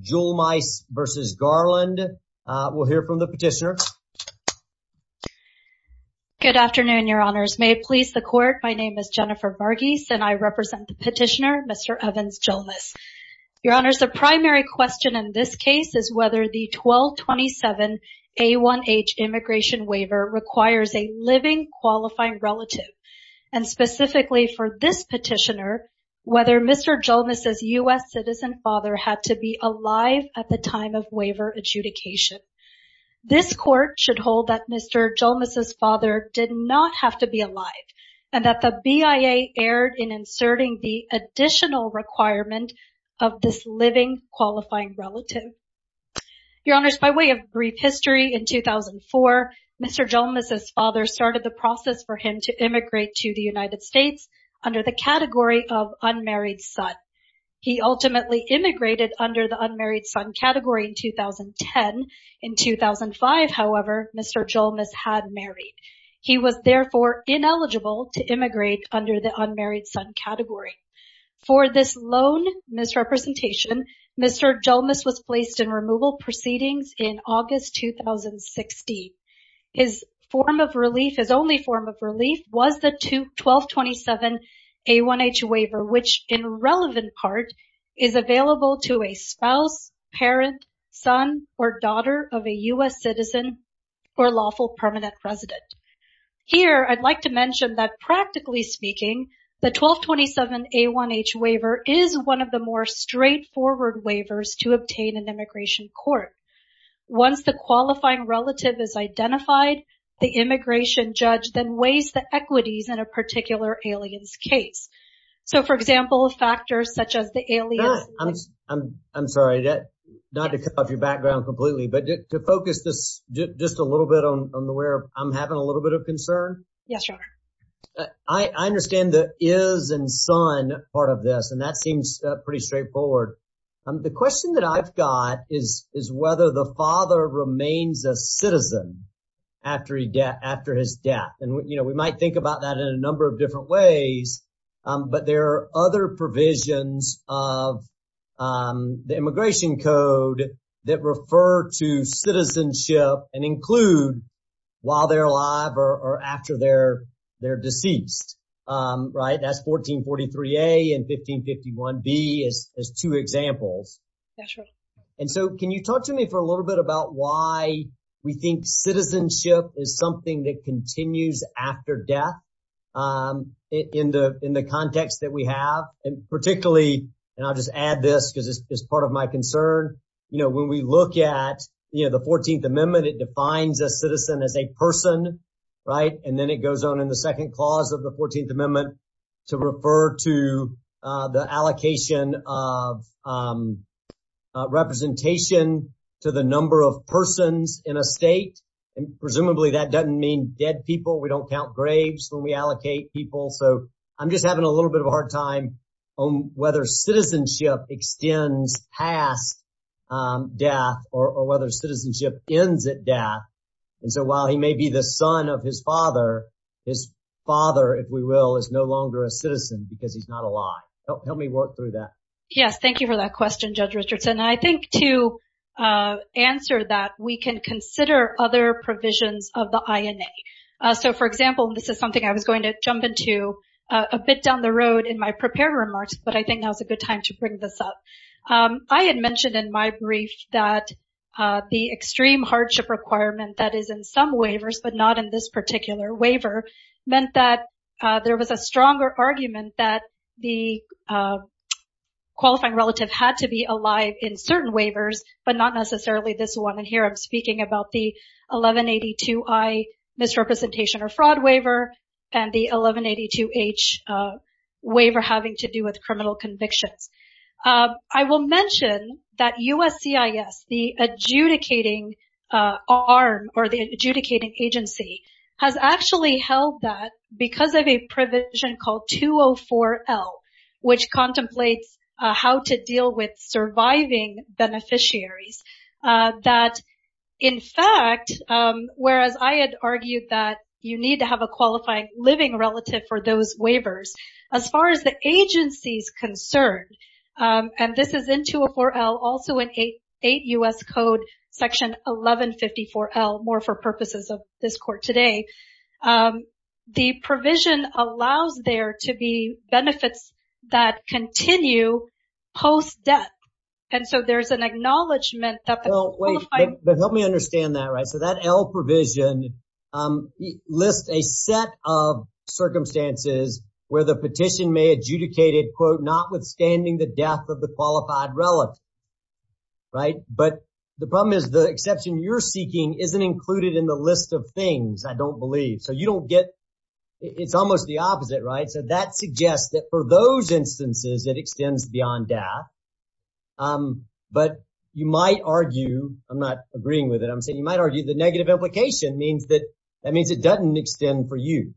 Julmice v. Garland. We'll hear from the petitioner. Good afternoon, Your Honors. May it please the Court, my name is Jennifer Varghese and I represent the petitioner, Mr. Evans Julmice. Your Honors, the primary question in this case is whether the 1227 A1H Immigration Waiver requires a living qualifying relative. And specifically for this petitioner, whether Mr. Julmice's U.S. citizen father had to be alive at the time of waiver adjudication. This Court should hold that Mr. Julmice's father did not have to be alive and that the BIA erred in inserting the additional requirement of this living qualifying relative. Your Honors, by way of brief history, in 2004, Mr. Julmice's father started the process for him to immigrate to the United States under the category of unmarried son. He ultimately immigrated under the unmarried son category in 2010. In 2005, however, Mr. Julmice had married. He was therefore ineligible to immigrate under the unmarried son category. For this lone misrepresentation, Mr. Julmice was placed in removal proceedings in August 2016. His form of relief, his only form of relief was the 1227 A1H waiver, which in relevant part is available to a spouse, parent, son, or daughter of a U.S. citizen or lawful permanent resident. Here, I'd like to mention that practically speaking, the 1227 A1H waiver is one of the more straightforward waivers to obtain in immigration court. Once the qualifying relative is identified, the immigration judge then weighs the equities in a particular alien's case. So, for example, factors such as the alien- I'm sorry, not to cut off your background completely, but to focus just a little bit on where I'm having a little bit of concern. Yes, Your Honor. I understand the is and son part of this, and that seems pretty straightforward. The question that I've got is whether the father remains a citizen after his death. We might think about that in a number of different ways, but there are other provisions of the immigration code that refer to citizenship and include while they're alive or after they're deceased. That's 1443A and 1551B as two examples. That's right. And so can you talk to me for a little bit about why we think citizenship is something that continues after death in the context that we have? And particularly, and I'll just add this because it's part of my concern. You know, when we look at the 14th Amendment, it defines a citizen as a person, right? And then it goes on in the second clause of the 14th Amendment to refer to the allocation of representation to the number of persons in a state. And presumably that doesn't mean dead people. We don't count graves when we allocate people. So I'm just having a little bit of a hard time on whether citizenship extends past death or whether citizenship ends at death. And so while he may be the son of his father, his father, if we will, is no longer a citizen because he's not alive. Help me work through that. Yes, thank you for that question, Judge Richardson. I think to answer that, we can consider other provisions of the INA. So, for example, this is something I was going to jump into a bit down the road in my prepared remarks, but I think now is a good time to bring this up. I had mentioned in my brief that the extreme hardship requirement that is in some waivers but not in this particular waiver meant that there was a stronger argument that the qualifying relative had to be alive in certain waivers but not necessarily this one. And here I'm speaking about the 1182I misrepresentation or fraud waiver and the 1182H waiver having to do with criminal convictions. I will mention that USCIS, the adjudicating arm or the adjudicating agency, has actually held that because of a provision called 204L, which contemplates how to deal with surviving beneficiaries, that in fact, whereas I had argued that you need to have a qualifying living relative for those waivers, as far as the agency's concerned, and this is in 204L, also in 8 U.S. Code Section 1154L, more for purposes of this court today, the provision allows there to be benefits that continue post-death. And so there's an acknowledgment that the qualifying... But help me understand that, right? So that L provision lists a set of circumstances where the petition may adjudicate it, quote, notwithstanding the death of the qualified relative, right? But the problem is the exception you're seeking isn't included in the list of things, I don't believe. So you don't get... It's almost the opposite, right? So that suggests that for those instances, it extends beyond death. But you might argue, I'm not agreeing with it, I'm saying you might argue the negative implication means that that means it doesn't extend for you.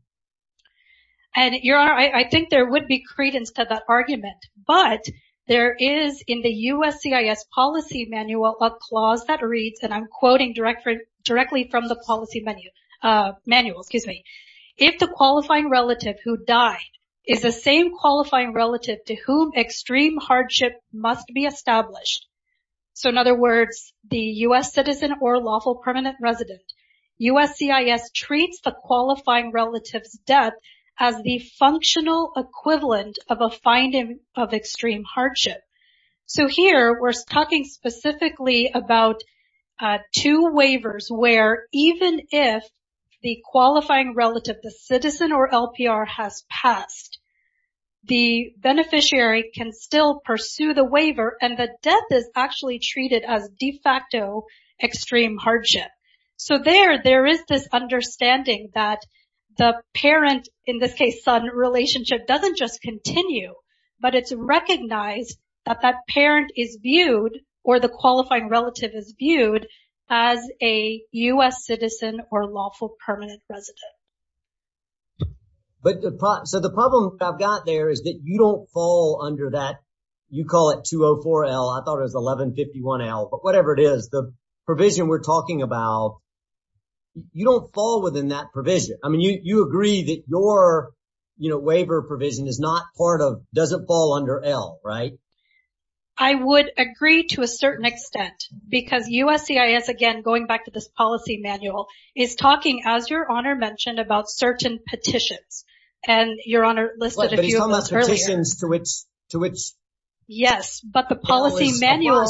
And Your Honor, I think there would be credence to that argument, but there is, in the USCIS policy manual, a clause that reads, and I'm quoting directly from the policy manual, excuse me, if the qualifying relative who died is the same qualifying relative to whom extreme hardship must be established, so in other words, the U.S. citizen or lawful permanent resident, USCIS treats the qualifying relative's death as the functional equivalent of a finding of extreme hardship. So here, we're talking specifically about two waivers where even if the qualifying relative, the citizen or LPR, has passed, the beneficiary can still pursue the waiver and the death is actually treated as de facto extreme hardship. So there, there is this understanding that the parent, in this case son, relationship doesn't just continue, but it's recognized that that parent is viewed, or the qualifying relative is viewed, as a U.S. citizen or lawful permanent resident. But, so the problem I've got there is that you don't fall under that, you call it 204L, I thought it was 1151L, but whatever it is, the provision we're talking about, you don't fall within that provision. I mean, you agree that your, you know, waiver provision is not part of, doesn't fall under L, right? I would agree to a certain extent, because USCIS, again, going back to this policy manual, is talking, as your Honor mentioned, about certain petitions. And your Honor listed a few of those earlier. But he's talking about petitions to which, to which... Yes, but the policy manual,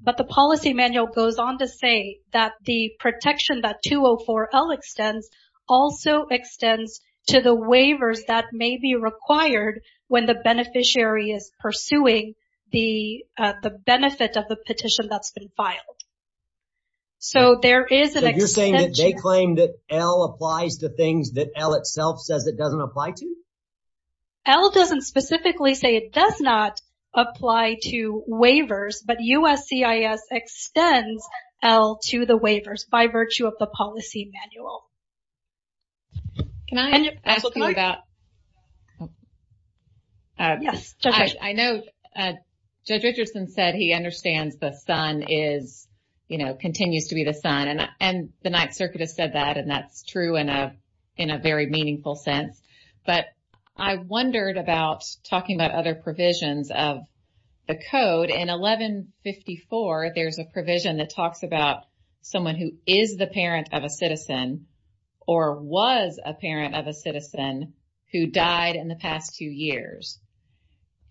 but the policy manual goes on to say that the protection that 204L extends, also extends to the waivers that may be required when the beneficiary is pursuing the benefit of the petition that's been filed. So there is an extension... So you're saying that they claim that L applies to things that L itself says it doesn't apply to? L doesn't specifically say it does not apply to waivers, but USCIS extends L to the waivers by virtue of the policy manual. Can I ask you about... Yes. I know Judge Richardson said he understands the son is, you know, continues to be the son. And the Ninth Circuit has said that, and that's true in a very meaningful sense. But I wondered about talking about other provisions of the code. In 1154, there's a provision that talks about someone who is the parent of a citizen or was a parent of a citizen who died in the past two years.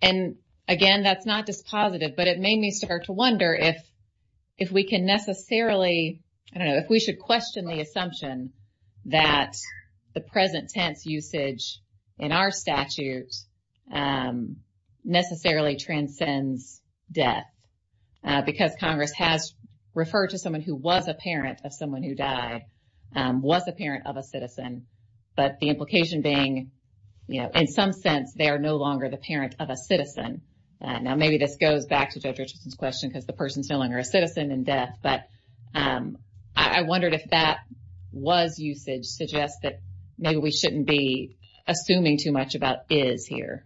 And again, that's not dispositive, but it made me start to wonder if, if we can necessarily... that the present tense usage in our statute necessarily transcends death. Because Congress has referred to someone who was a parent of someone who died, was a parent of a citizen. But the implication being, you know, in some sense, they are no longer the parent of a citizen. Now, maybe this goes back to Judge Richardson's question because the person is no longer a citizen in death. But I wondered if that was usage suggests that maybe we shouldn't be assuming too much about is here.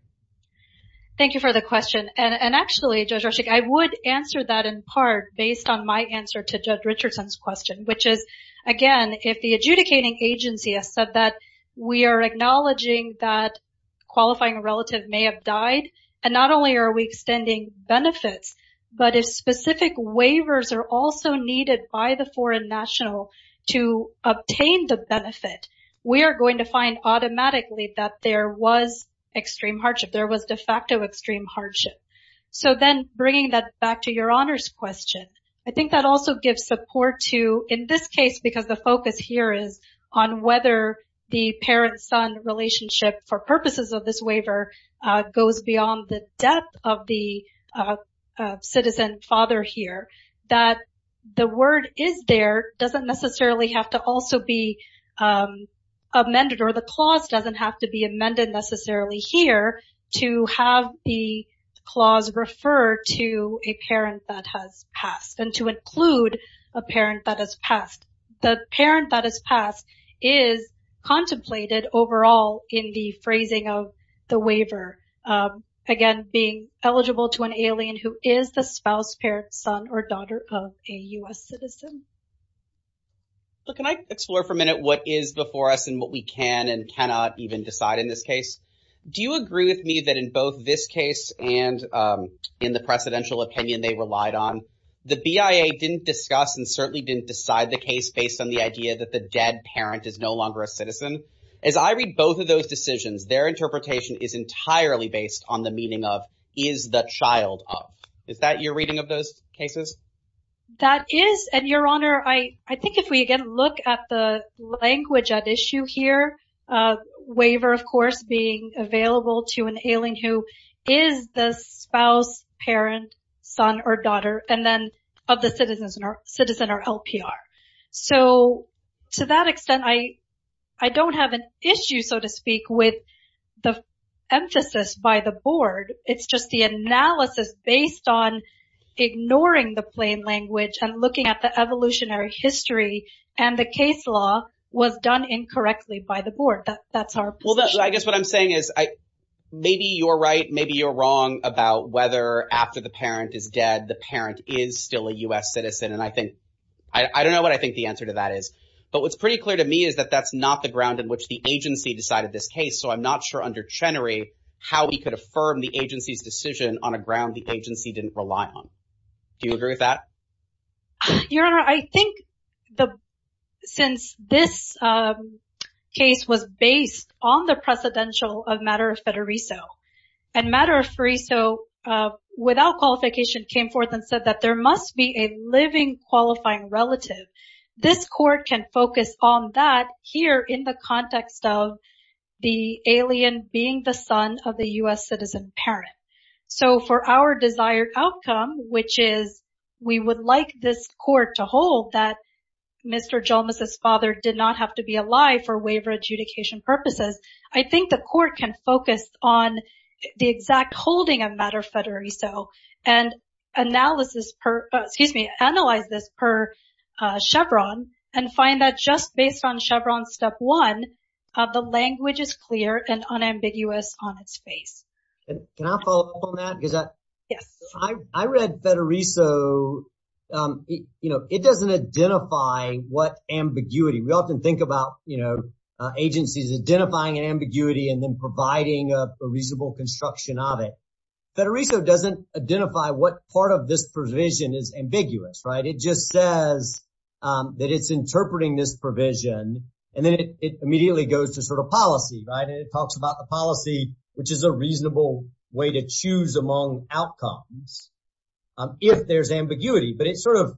Thank you for the question. And actually, Judge Rorschach, I would answer that in part based on my answer to Judge Richardson's question, which is, again, if the adjudicating agency has said that we are acknowledging that qualifying relative may have died, and not only are we extending benefits, but if specific waivers are also needed by the foreign national to obtain the benefit, we are going to find automatically that there was extreme hardship. There was de facto extreme hardship. So then bringing that back to your honors question, I think that also gives support to, in this case, because the focus here is on whether the parent-son relationship, for purposes of this waiver, goes beyond the death of the citizen father here. That the word is there doesn't necessarily have to also be amended, or the clause doesn't have to be amended necessarily here to have the clause refer to a parent that has passed, and to include a parent that has passed. The parent that has passed is contemplated overall in the phrasing of the waiver. Again, being eligible to an alien who is the spouse, parent, son, or daughter of a U.S. citizen. Can I explore for a minute what is before us and what we can and cannot even decide in this case? Do you agree with me that in both this case and in the precedential opinion they relied on, the BIA didn't discuss and certainly didn't decide the case based on the idea that the dead parent is no longer a citizen? As I read both of those decisions, their interpretation is entirely based on the meaning of, is the child of. Is that your reading of those cases? That is, and your honor, I think if we again look at the language at issue here, waiver of course being available to an alien who is the spouse, parent, son, or daughter, and then of the citizen or LPR. So to that extent I don't have an issue so to speak with the emphasis by the board. It's just the analysis based on ignoring the plain language and looking at the evolutionary history and the case law was done incorrectly by the board. That's our position. So I guess what I'm saying is maybe you're right, maybe you're wrong about whether after the parent is dead, the parent is still a U.S. citizen and I think, I don't know what I think the answer to that is. But what's pretty clear to me is that that's not the ground in which the agency decided this case. So I'm not sure under Chenery how he could affirm the agency's decision on a ground the agency didn't rely on. Do you agree with that? Your Honor, I think since this case was based on the precedential of Matter of Federico, and Matter of Federico without qualification came forth and said that there must be a living qualifying relative, this court can focus on that here in the context of the alien being the son of the U.S. citizen parent. So for our desired outcome, which is we would like this court to hold that Mr. Jolmes' father did not have to be alive for waiver adjudication purposes, I think the court can focus on the exact holding of Matter of Federico and analyze this per Chevron and find that just based on Chevron step one, the language is clear and unambiguous on its face. Can I follow up on that? Yes. I read Federico, you know, it doesn't identify what ambiguity. We often think about, you know, agencies identifying an ambiguity and then providing a reasonable construction of it. Federico doesn't identify what part of this provision is ambiguous, right? It just says that it's interpreting this provision and then it immediately goes to sort of policy, right? It's a reasonable way to choose among outcomes if there's ambiguity. But it sort of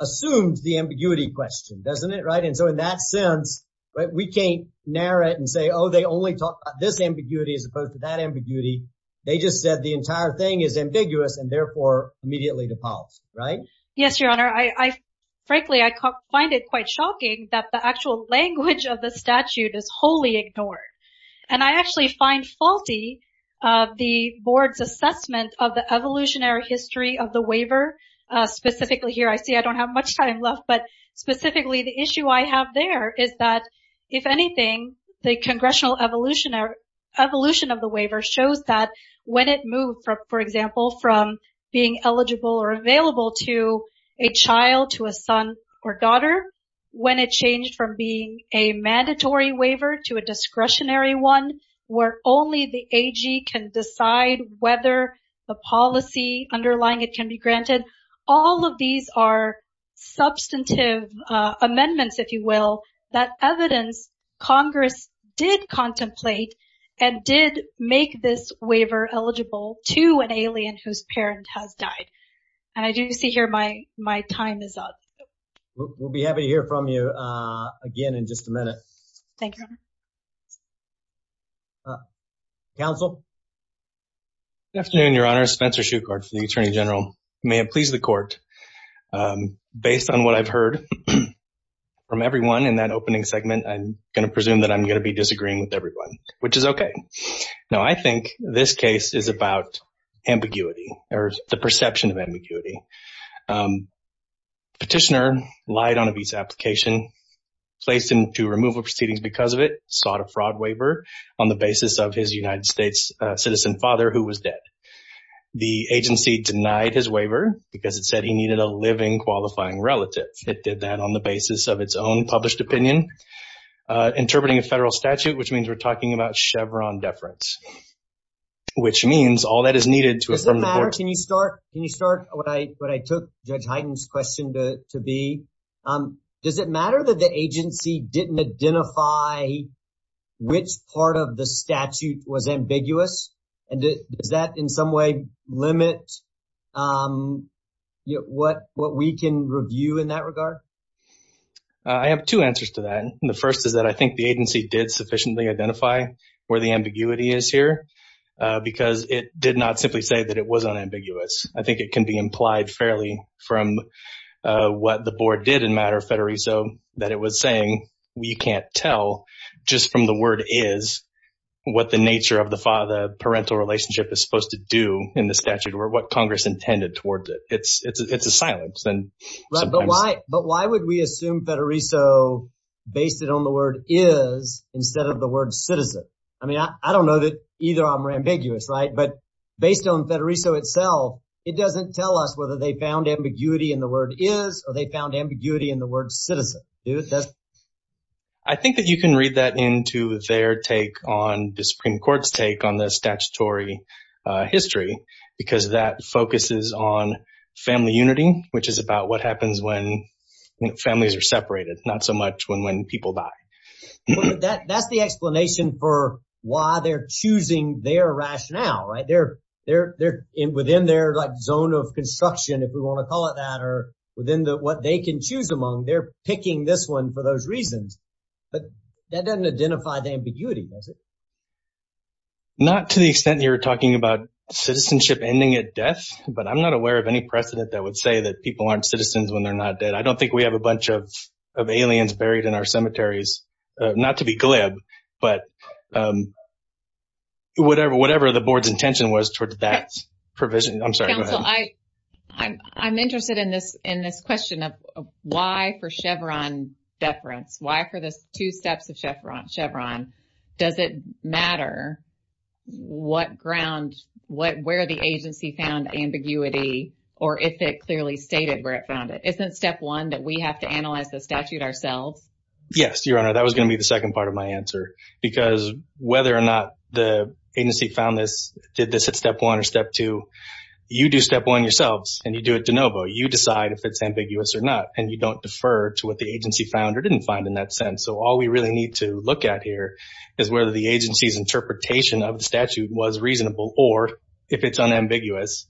assumes the ambiguity question, doesn't it? Right. And so in that sense, we can't narrate and say, oh, they only talk about this ambiguity as opposed to that ambiguity. They just said the entire thing is ambiguous and therefore immediately to policy. Right. Yes, Your Honor. I frankly, I find it quite shocking that the actual language of the statute is wholly ignored. And I actually find faulty the board's assessment of the evolutionary history of the waiver specifically here. I see I don't have much time left, but specifically the issue I have there is that if anything, the congressional evolution or evolution of the waiver shows that when it moved, for example, from being eligible or available to a child, to a son or daughter, when it changed from being a mandatory waiver to a discretionary one where only the AG can decide whether the policy underlying it can be granted. All of these are substantive amendments, if you will, that evidence Congress did contemplate and did make this waiver eligible to an alien whose parent has died. And I do see here my my time is up. We'll be happy to hear from you again in just a minute. Thank you, Your Honor. Counsel. Good afternoon, Your Honor. Spencer Shukart, the attorney general. May it please the court. Based on what I've heard from everyone in that opening segment, I'm going to presume that I'm going to be disagreeing with everyone, which is OK. Now, I think this case is about ambiguity or the perception of ambiguity. Petitioner lied on a visa application, placed him to removal proceedings because of it, sought a fraud waiver on the basis of his United States citizen father who was dead. The agency denied his waiver because it said he needed a living, qualifying relative. It did that on the basis of its own published opinion, interpreting a federal statute, which means we're talking about Chevron deference, which means all that is needed to. Does that matter? Can you start? Can you start? What I what I took Judge Heiden's question to be. Does it matter that the agency didn't identify which part of the statute was ambiguous? And does that in some way limit what what we can review in that regard? I have two answers to that. And the first is that I think the agency did sufficiently identify where the ambiguity is here because it did not simply say that it was unambiguous. I think it can be implied fairly from what the board did in matter of federalism that it was saying we can't tell just from the word is what the nature of the father. Parental relationship is supposed to do in the statute or what Congress intended towards it. It's it's it's a silence then. But why? But why would we assume that Arisa based it on the word is instead of the word citizen? I mean, I don't know that either. I'm ambiguous. Right. But based on that Arisa itself, it doesn't tell us whether they found ambiguity in the word is or they found ambiguity in the word citizen. I think that you can read that into their take on the Supreme Court's take on the statutory history, because that focuses on family unity, which is about what happens when families are separated. It's not so much when when people die that that's the explanation for why they're choosing their rationale right there. They're in within their zone of construction, if we want to call it that, or within what they can choose among. They're picking this one for those reasons. But that doesn't identify the ambiguity, does it? Not to the extent you're talking about citizenship ending at death. But I'm not aware of any precedent that would say that people aren't citizens when they're not dead. I don't think we have a bunch of of aliens buried in our cemeteries. Not to be glib, but whatever, whatever the board's intention was towards that provision. I'm sorry. I I'm interested in this in this question of why for Chevron deference, why for this two steps of Chevron Chevron? Does it matter what ground, what where the agency found ambiguity or if it clearly stated where it found it? Isn't step one that we have to analyze the statute ourselves? Yes, Your Honor. That was going to be the second part of my answer, because whether or not the agency found this, did this at step one or step two, you do step one yourselves and you do it de novo. You decide if it's ambiguous or not. And you don't defer to what the agency found or didn't find in that sense. So all we really need to look at here is whether the agency's interpretation of the statute was reasonable or if it's unambiguous.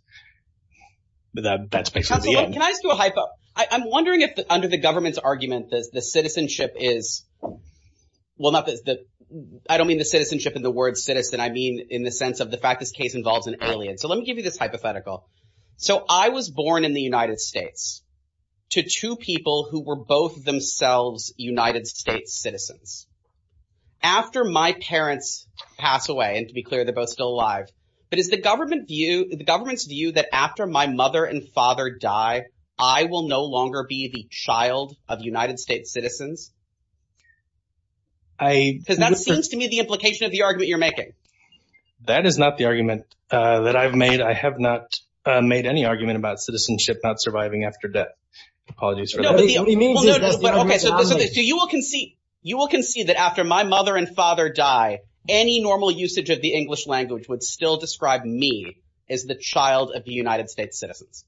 But that's basically it. Can I do a hypo? I'm wondering if under the government's argument, does the citizenship is well, not that I don't mean the citizenship in the word citizen. I mean, in the sense of the fact this case involves an alien. So let me give you this hypothetical. So I was born in the United States to two people who were both themselves United States citizens after my parents pass away. And to be clear, they're both still alive. But is the government view, the government's view that after my mother and father die, I will no longer be the child of United States citizens? Because that seems to me the implication of the argument you're making. That is not the argument that I've made. I have not made any argument about citizenship, not surviving after death. You will concede that after my mother and father die, any normal usage of the English language would still describe me as the child of the United States citizens.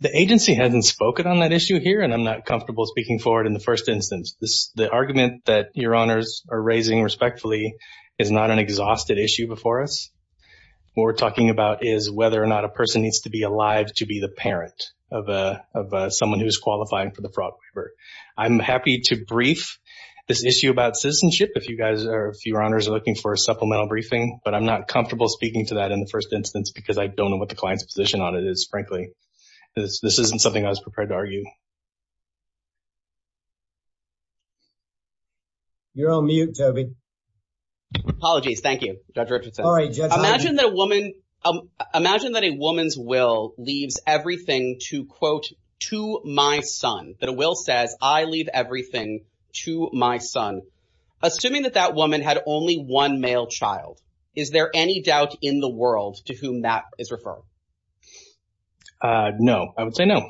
The agency hasn't spoken on that issue here, and I'm not comfortable speaking for it in the first instance. The argument that your honors are raising respectfully is not an exhausted issue before us. What we're talking about is whether or not a person needs to be alive to be the parent of someone who's qualifying for the fraud waiver. I'm happy to brief this issue about citizenship if you guys are, if your honors are looking for a supplemental briefing. But I'm not comfortable speaking to that in the first instance because I don't know what the client's position on it is, frankly. This isn't something I was prepared to argue. You're on mute, Toby. Apologies. Thank you. Dr. Richardson. Imagine that a woman's will leaves everything to, quote, to my son. That a will says, I leave everything to my son. Assuming that that woman had only one male child, is there any doubt in the world to whom that is referring? No. I would say no.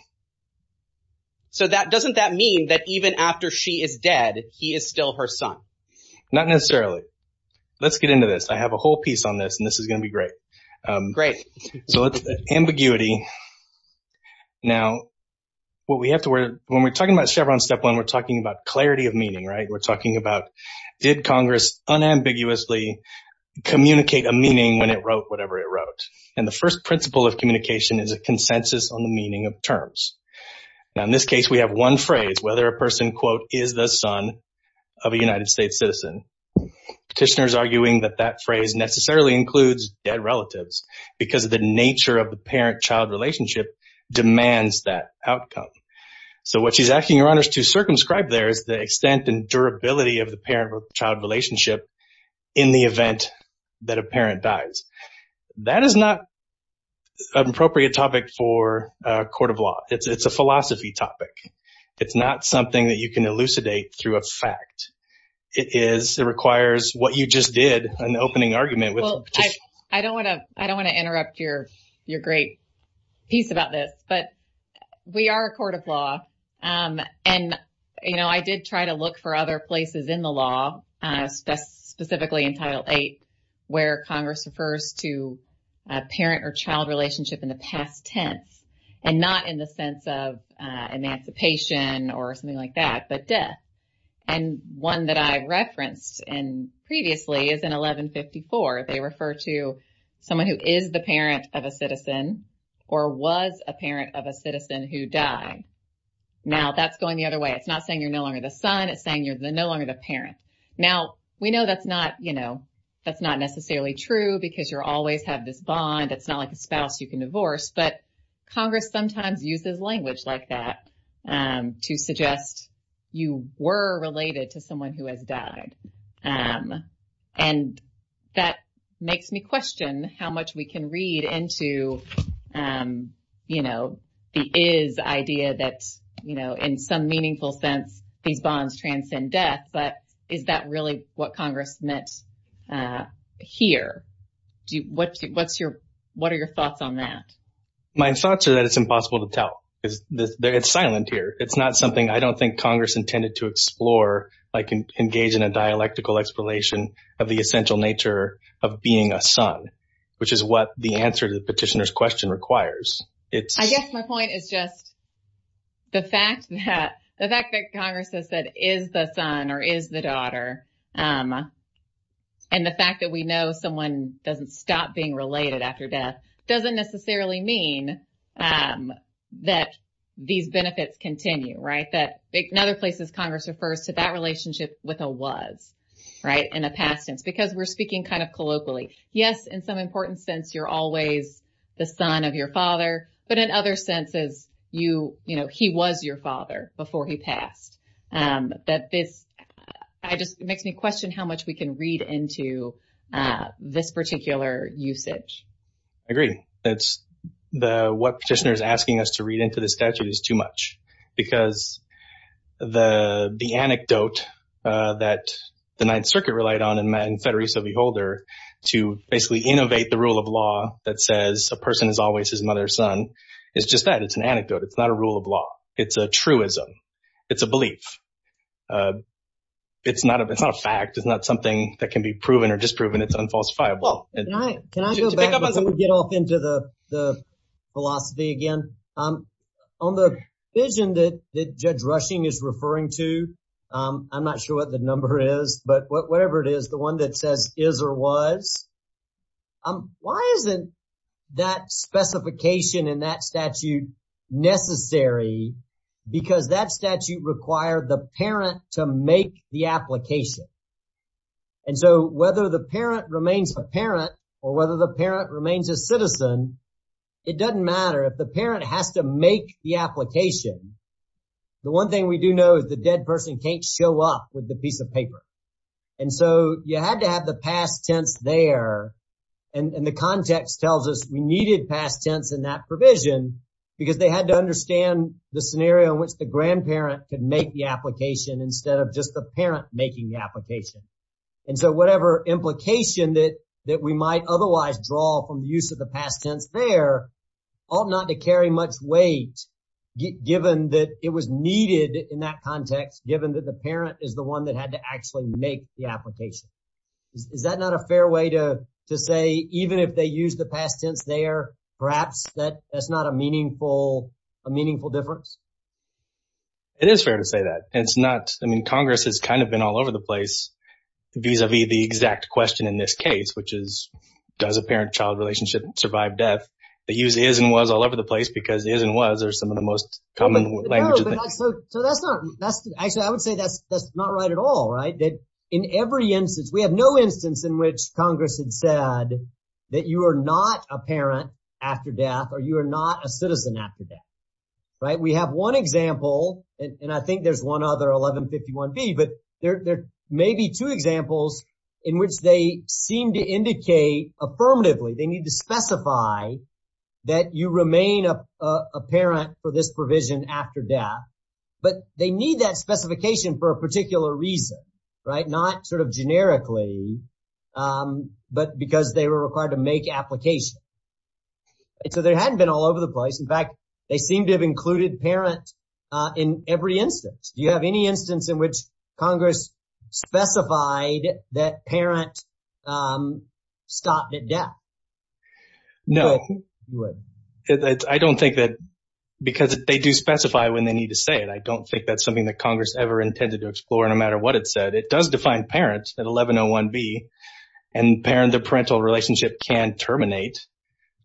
So doesn't that mean that even after she is dead, he is still her son? Not necessarily. Let's get into this. I have a whole piece on this, and this is going to be great. Great. Ambiguity. Now, when we're talking about Chevron Step 1, we're talking about clarity of meaning, right? We're talking about did Congress unambiguously communicate a meaning when it wrote whatever it wrote? And the first principle of communication is a consensus on the meaning of terms. Now, in this case, we have one phrase, whether a person, quote, is the son of a United States citizen. Petitioners arguing that that phrase necessarily includes dead relatives because of the nature of the parent-child relationship demands that outcome. So what she's asking your honors to circumscribe there is the extent and durability of the parent-child relationship in the event that a parent dies. That is not an appropriate topic for a court of law. It's a philosophy topic. It's not something that you can elucidate through a fact. It is. It requires what you just did, an opening argument. Well, I don't want to interrupt your great piece about this, but we are a court of law. And, you know, I did try to look for other places in the law, specifically in Title VIII, where Congress refers to a parent-child relationship in the past tense and not in the sense of emancipation or something like that, but death. And one that I referenced previously is in 1154. They refer to someone who is the parent of a citizen or was a parent of a citizen who died. Now, that's going the other way. It's not saying you're no longer the son. It's saying you're no longer the parent. Now, we know that's not, you know, that's not necessarily true because you always have this bond. It's not like a spouse you can divorce. But Congress sometimes uses language like that to suggest you were related to someone who has died. And that makes me question how much we can read into, you know, the is idea that, you know, in some meaningful sense, these bonds transcend death. But is that really what Congress meant here? What are your thoughts on that? My thoughts are that it's impossible to tell. It's silent here. It's not something I don't think Congress intended to explore, like engage in a dialectical explanation of the essential nature of being a son, which is what the answer to the petitioner's question requires. I guess my point is just the fact that Congress has said is the son or is the daughter and the fact that we know someone doesn't stop being related after death doesn't necessarily mean that these benefits continue, right? In other places, Congress refers to that relationship with a was, right, in a past tense because we're speaking kind of colloquially. Yes, in some important sense, you're always the son of your father. But in other senses, you know, he was your father before he passed. That this just makes me question how much we can read into this particular usage. I agree. It's the what petitioner is asking us to read into the statute is too much because the anecdote that the Ninth Circuit relied on in Federico V. Holder to basically innovate the rule of law that says a person is always his mother's son is just that. It's an anecdote. It's not a rule of law. It's a truism. It's a belief. It's not a fact. It's not something that can be proven or disproven. It's unfalsifiable. Can I get off into the philosophy again on the vision that Judge Rushing is referring to? I'm not sure what the number is, but whatever it is, the one that says is or was. Why isn't that specification in that statute necessary? Because that statute required the parent to make the application. And so whether the parent remains a parent or whether the parent remains a citizen, it doesn't matter if the parent has to make the application. The one thing we do know is the dead person can't show up with the piece of paper. And so you had to have the past tense there. And the context tells us we needed past tense in that provision because they had to understand the scenario in which the grandparent could make the application instead of just the parent making the application. And so whatever implication that we might otherwise draw from the use of the past tense there ought not to carry much weight given that it was needed in that context, given that the parent is the one that had to actually make the application. Is that not a fair way to say even if they use the past tense there, perhaps that's not a meaningful difference? It is fair to say that. I mean, Congress has kind of been all over the place vis-a-vis the exact question in this case, which is does a parent-child relationship survive death? They use is and was all over the place because is and was are some of the most common language. So that's not – actually, I would say that's not right at all. In every instance – we have no instance in which Congress had said that you are not a parent after death or you are not a citizen after death. We have one example, and I think there's one other, 1151B, but there may be two examples in which they seem to indicate affirmatively. They need to specify that you remain a parent for this provision after death, but they need that specification for a particular reason, not sort of generically, but because they were required to make application. So they hadn't been all over the place. In fact, they seem to have included parent in every instance. Do you have any instance in which Congress specified that parent stopped at death? No. I don't think that – because they do specify when they need to say it. I don't think that's something that Congress ever intended to explore no matter what it said. It does define parent at 1101B, and the parental relationship can terminate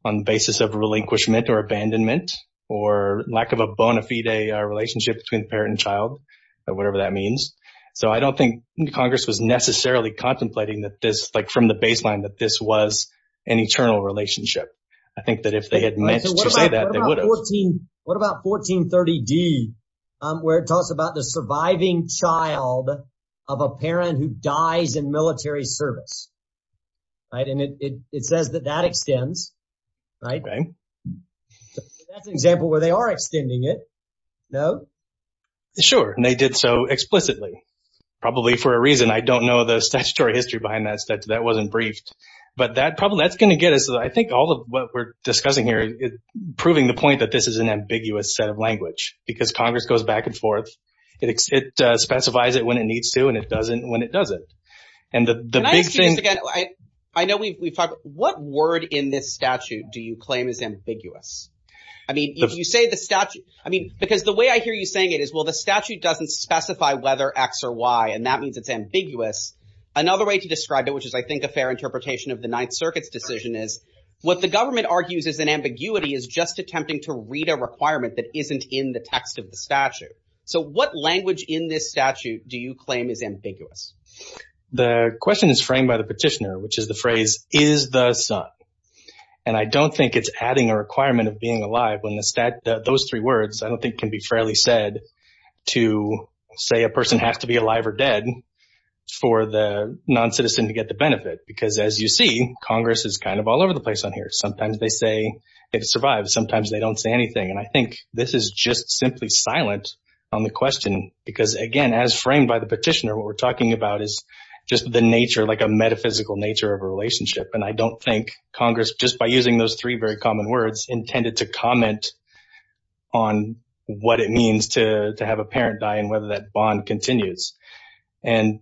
on the basis of relinquishment or abandonment or lack of a bona fide relationship between parent and child or whatever that means. So I don't think Congress was necessarily contemplating that this – like from the baseline that this was an eternal relationship. I think that if they had meant to say that, they would have. What about 1430D where it talks about the surviving child of a parent who dies in military service? And it says that that extends, right? That's an example where they are extending it. No? Sure, and they did so explicitly, probably for a reason. I don't know the statutory history behind that. But that probably – that's going to get us – I think all of what we're discussing here is proving the point that this is an ambiguous set of language because Congress goes back and forth. It specifies it when it needs to and it doesn't when it doesn't. Can I ask you this again? I know we've talked – what word in this statute do you claim is ambiguous? I mean if you say the statute – I mean because the way I hear you saying it is, well, the statute doesn't specify whether X or Y, and that means it's ambiguous. Another way to describe it, which is I think a fair interpretation of the Ninth Circuit's decision is what the government argues is an ambiguity is just attempting to read a requirement that isn't in the text of the statute. So what language in this statute do you claim is ambiguous? The question is framed by the petitioner, which is the phrase, is the son? And I don't think it's adding a requirement of being alive when those three words I don't think can be fairly said to say a person has to be alive or dead for the noncitizen to get the benefit. Because as you see, Congress is kind of all over the place on here. Sometimes they say it survives. Sometimes they don't say anything. And I think this is just simply silent on the question because, again, as framed by the petitioner, what we're talking about is just the nature, like a metaphysical nature of a relationship. And I don't think Congress, just by using those three very common words, intended to comment on what it means to have a parent die and whether that bond continues. And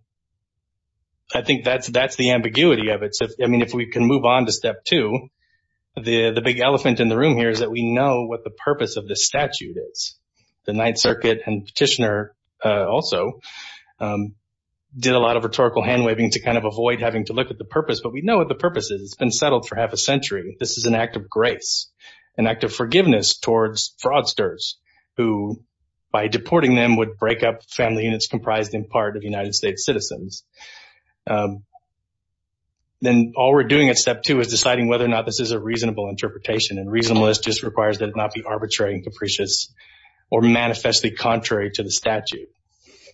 I think that's the ambiguity of it. I mean, if we can move on to step two, the big elephant in the room here is that we know what the purpose of this statute is. The Ninth Circuit and petitioner also did a lot of rhetorical hand-waving to kind of avoid having to look at the purpose. But we know what the purpose is. It's been settled for half a century. This is an act of grace, an act of forgiveness towards fraudsters who, by deporting them, would break up family units comprised in part of United States citizens. Then all we're doing at step two is deciding whether or not this is a reasonable interpretation. And reasonableness just requires that it not be arbitrary and capricious or manifestly contrary to the statute.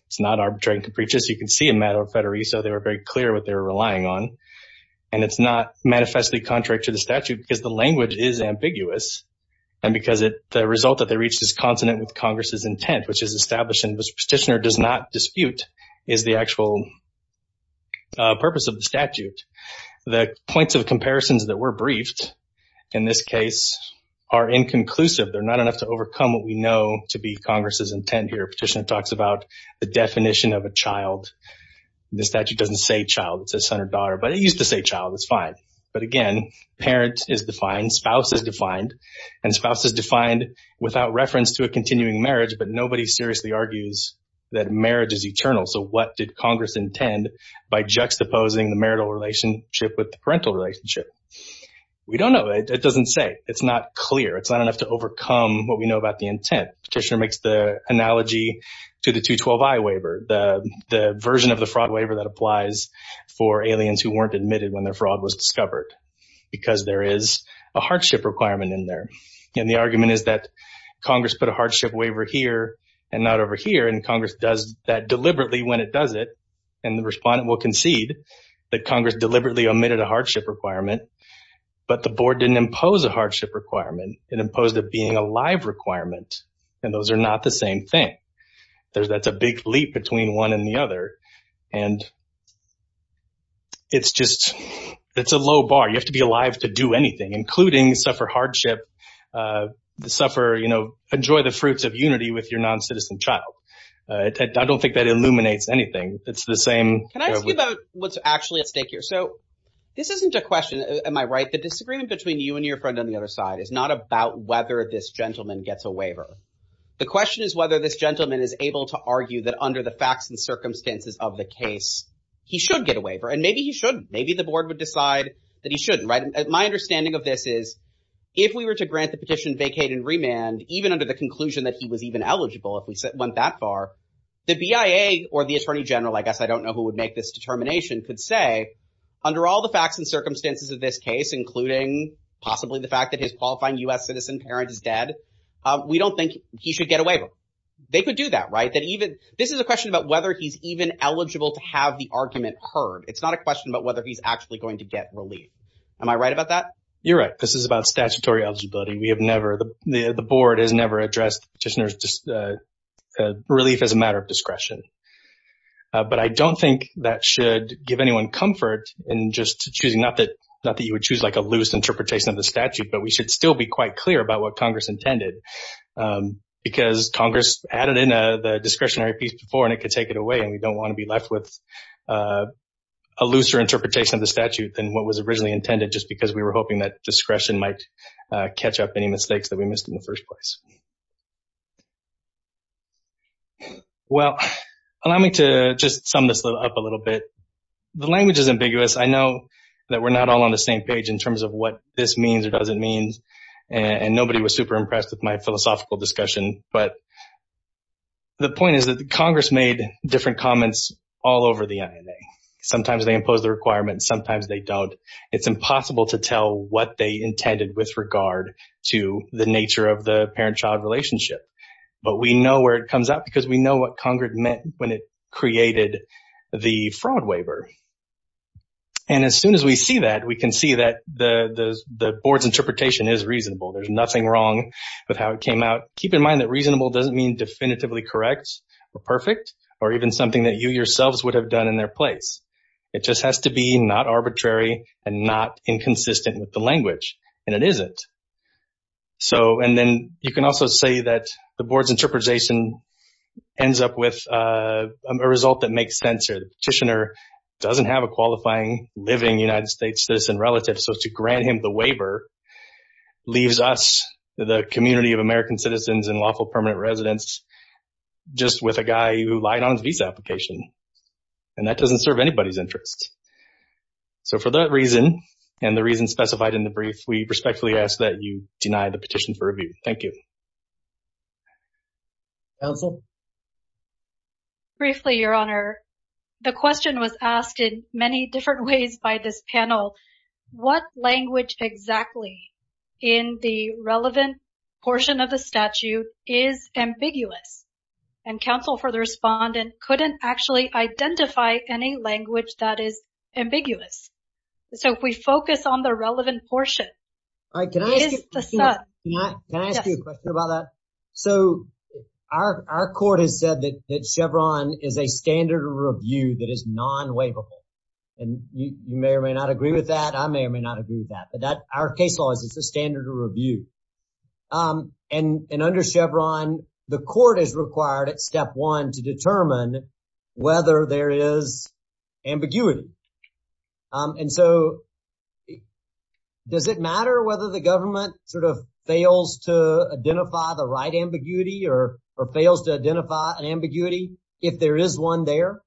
It's not arbitrary and capricious. You can see in Maddo, Federico, they were very clear what they were relying on. And it's not manifestly contrary to the statute because the language is ambiguous. And because the result that they reached is consonant with Congress's intent, which is established and the petitioner does not dispute is the actual purpose of the statute. The points of comparisons that were briefed in this case are inconclusive. They're not enough to overcome what we know to be Congress's intent here. Petitioner talks about the definition of a child. The statute doesn't say child. It says son or daughter. But it used to say child. It's fine. But again, parent is defined, spouse is defined, and spouse is defined without reference to a continuing marriage. But nobody seriously argues that marriage is eternal. So what did Congress intend by juxtaposing the marital relationship with the parental relationship? We don't know. It doesn't say. It's not clear. It's not enough to overcome what we know about the intent. Petitioner makes the analogy to the 212i waiver, the version of the fraud waiver that applies for aliens who weren't admitted when their fraud was discovered. Because there is a hardship requirement in there. And the argument is that Congress put a hardship waiver here and not over here. And Congress does that deliberately when it does it. And the respondent will concede that Congress deliberately omitted a hardship requirement. But the board didn't impose a hardship requirement. It imposed it being a live requirement. And those are not the same thing. That's a big leap between one and the other. And it's just, it's a low bar. You have to be alive to do anything, including suffer hardship, suffer, you know, enjoy the fruits of unity with your noncitizen child. I don't think that illuminates anything. It's the same. Can I ask you about what's actually at stake here? So this isn't a question, am I right, the disagreement between you and your friend on the other side is not about whether this gentleman gets a waiver. The question is whether this gentleman is able to argue that under the facts and circumstances of the case, he should get a waiver. And maybe he should. Maybe the board would decide that he shouldn't. My understanding of this is if we were to grant the petition, vacate and remand, even under the conclusion that he was even eligible, if we went that far, the BIA or the attorney general, I guess I don't know who would make this determination, could say, under all the facts and circumstances of this case, including possibly the fact that his qualifying U.S. citizen parent is dead, we don't think he should get a waiver. They could do that, right? This is a question about whether he's even eligible to have the argument heard. It's not a question about whether he's actually going to get relief. Am I right about that? You're right. This is about statutory eligibility. We have never, the board has never addressed relief as a matter of discretion. But I don't think that should give anyone comfort in just choosing, not that you would choose like a loose interpretation of the statute, but we should still be quite clear about what Congress intended. Because Congress added in the discretionary piece before and it could take it away, and we don't want to be left with a looser interpretation of the statute than what was originally intended, just because we were hoping that discretion might catch up any mistakes that we missed in the first place. Well, allow me to just sum this up a little bit. The language is ambiguous. I know that we're not all on the same page in terms of what this means or doesn't mean, and nobody was super impressed with my philosophical discussion. But the point is that Congress made different comments all over the INA. Sometimes they imposed the requirements, sometimes they don't. It's impossible to tell what they intended with regard to the nature of the parent-child relationship. But we know where it comes up because we know what Congress meant when it created the fraud waiver. And as soon as we see that, we can see that the board's interpretation is reasonable. There's nothing wrong with how it came out. Keep in mind that reasonable doesn't mean definitively correct or perfect or even something that you yourselves would have done in their place. It just has to be not arbitrary and not inconsistent with the language, and it isn't. And then you can also say that the board's interpretation ends up with a result that makes sense. The petitioner doesn't have a qualifying living United States citizen relative, so to grant him the waiver leaves us, the community of American citizens and lawful permanent residents, just with a guy who lied on his visa application. And that doesn't serve anybody's interests. So for that reason and the reason specified in the brief, we respectfully ask that you deny the petition for review. Thank you. Counsel? Briefly, Your Honor, the question was asked in many different ways by this panel. What language exactly in the relevant portion of the statute is ambiguous? And counsel for the respondent couldn't actually identify any language that is ambiguous. So if we focus on the relevant portion. Can I ask you a question about that? So our court has said that Chevron is a standard of review that is non-waivable. And you may or may not agree with that. I may or may not agree with that. But our case law is it's a standard of review. And under Chevron, the court is required at step one to determine whether there is ambiguity. And so does it matter whether the government sort of fails to identify the right ambiguity or fails to identify an ambiguity if there is one there?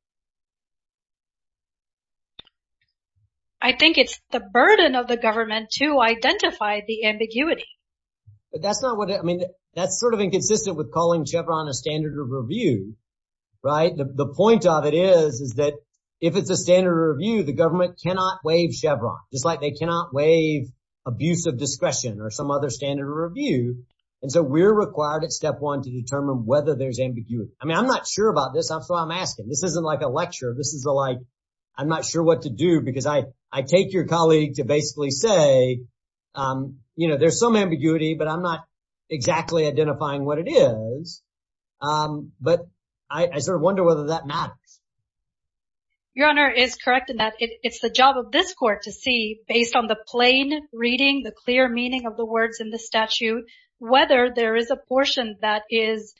So I think it's the burden of the government to identify the ambiguity. But that's not what I mean. That's sort of inconsistent with calling Chevron a standard of review. Right. The point of it is, is that if it's a standard of review, the government cannot waive Chevron. Just like they cannot waive abuse of discretion or some other standard of review. And so we're required at step one to determine whether there's ambiguity. I mean, I'm not sure about this. That's what I'm asking. This isn't like a lecture. This is like, I'm not sure what to do because I take your colleague to basically say, you know, there's some ambiguity, but I'm not exactly identifying what it is. But I sort of wonder whether that matters. Your Honor is correct in that it's the job of this court to see, based on the plain reading, the clear meaning of the words in the statute, whether there is a portion that is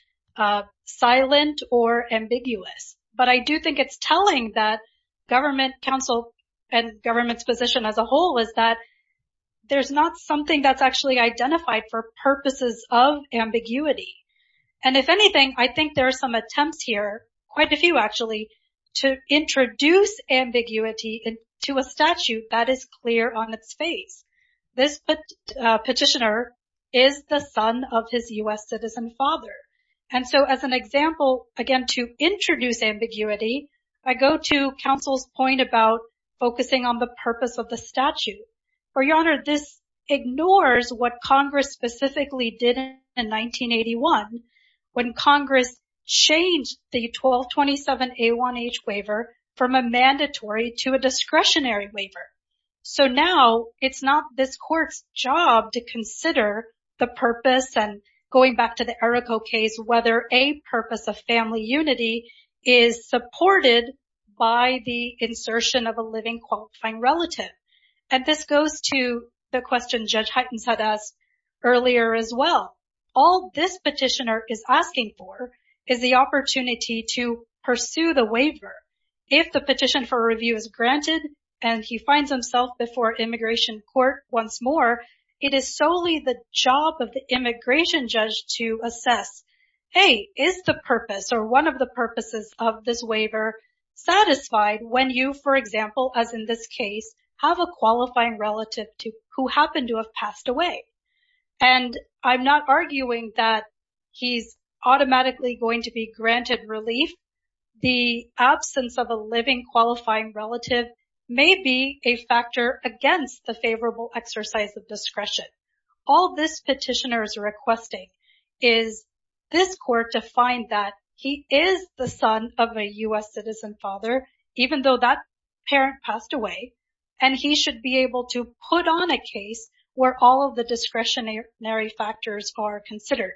silent or ambiguous. But I do think it's telling that government counsel and government's position as a whole is that there's not something that's actually identified for purposes of ambiguity. And if anything, I think there are some attempts here, quite a few actually, to introduce ambiguity to a statute that is clear on its face. This petitioner is the son of his U.S. citizen father. And so as an example, again, to introduce ambiguity, I go to counsel's point about focusing on the purpose of the statute. Your Honor, this ignores what Congress specifically did in 1981 when Congress changed the 1227A1H waiver from a mandatory to a discretionary waiver. So now it's not this court's job to consider the purpose, and going back to the Errico case, whether a purpose of family unity is supported by the insertion of a living qualifying relative. And this goes to the question Judge Heitens had asked earlier as well. All this petitioner is asking for is the opportunity to pursue the waiver. If the petition for review is granted, and he finds himself before immigration court once more, it is solely the job of the immigration judge to assess, hey, is the purpose or one of the purposes of this waiver satisfied when you, for example, as in this case, have a qualifying relative who happened to have passed away? And I'm not arguing that he's automatically going to be granted relief. The absence of a living qualifying relative may be a factor against the favorable exercise of discretion. All this petitioner is requesting is this court to find that he is the son of a U.S. citizen father, even though that parent passed away, and he should be able to put on a case where all of the discretionary factors are considered.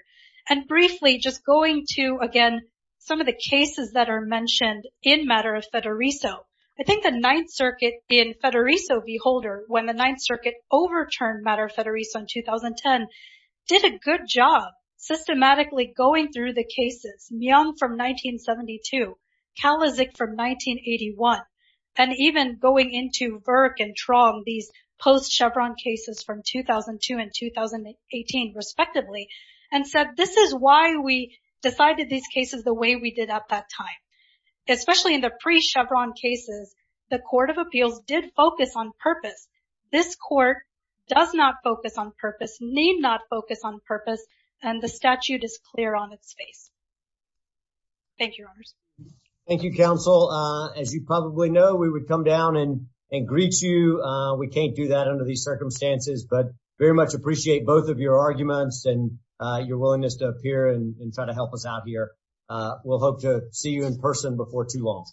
And briefly, just going to, again, some of the cases that are mentioned in Matter of Fedoriso. I think the Ninth Circuit in Fedoriso v. Holder, when the Ninth Circuit overturned Matter of Fedoriso in 2010, did a good job systematically going through the cases, Myung from 1972, Kalizik from 1981, and even going into Virk and Trong, these post-Chevron cases from 2002 and 2018, respectively, that this is why we decided these cases the way we did at that time. Especially in the pre-Chevron cases, the Court of Appeals did focus on purpose. This court does not focus on purpose, need not focus on purpose, and the statute is clear on its face. Thank you, Your Honors. Thank you, Counsel. As you probably know, we would come down and greet you. We can't do that under these circumstances, but very much appreciate both of your arguments and your willingness to appear and try to help us out here. We'll hope to see you in person before too long.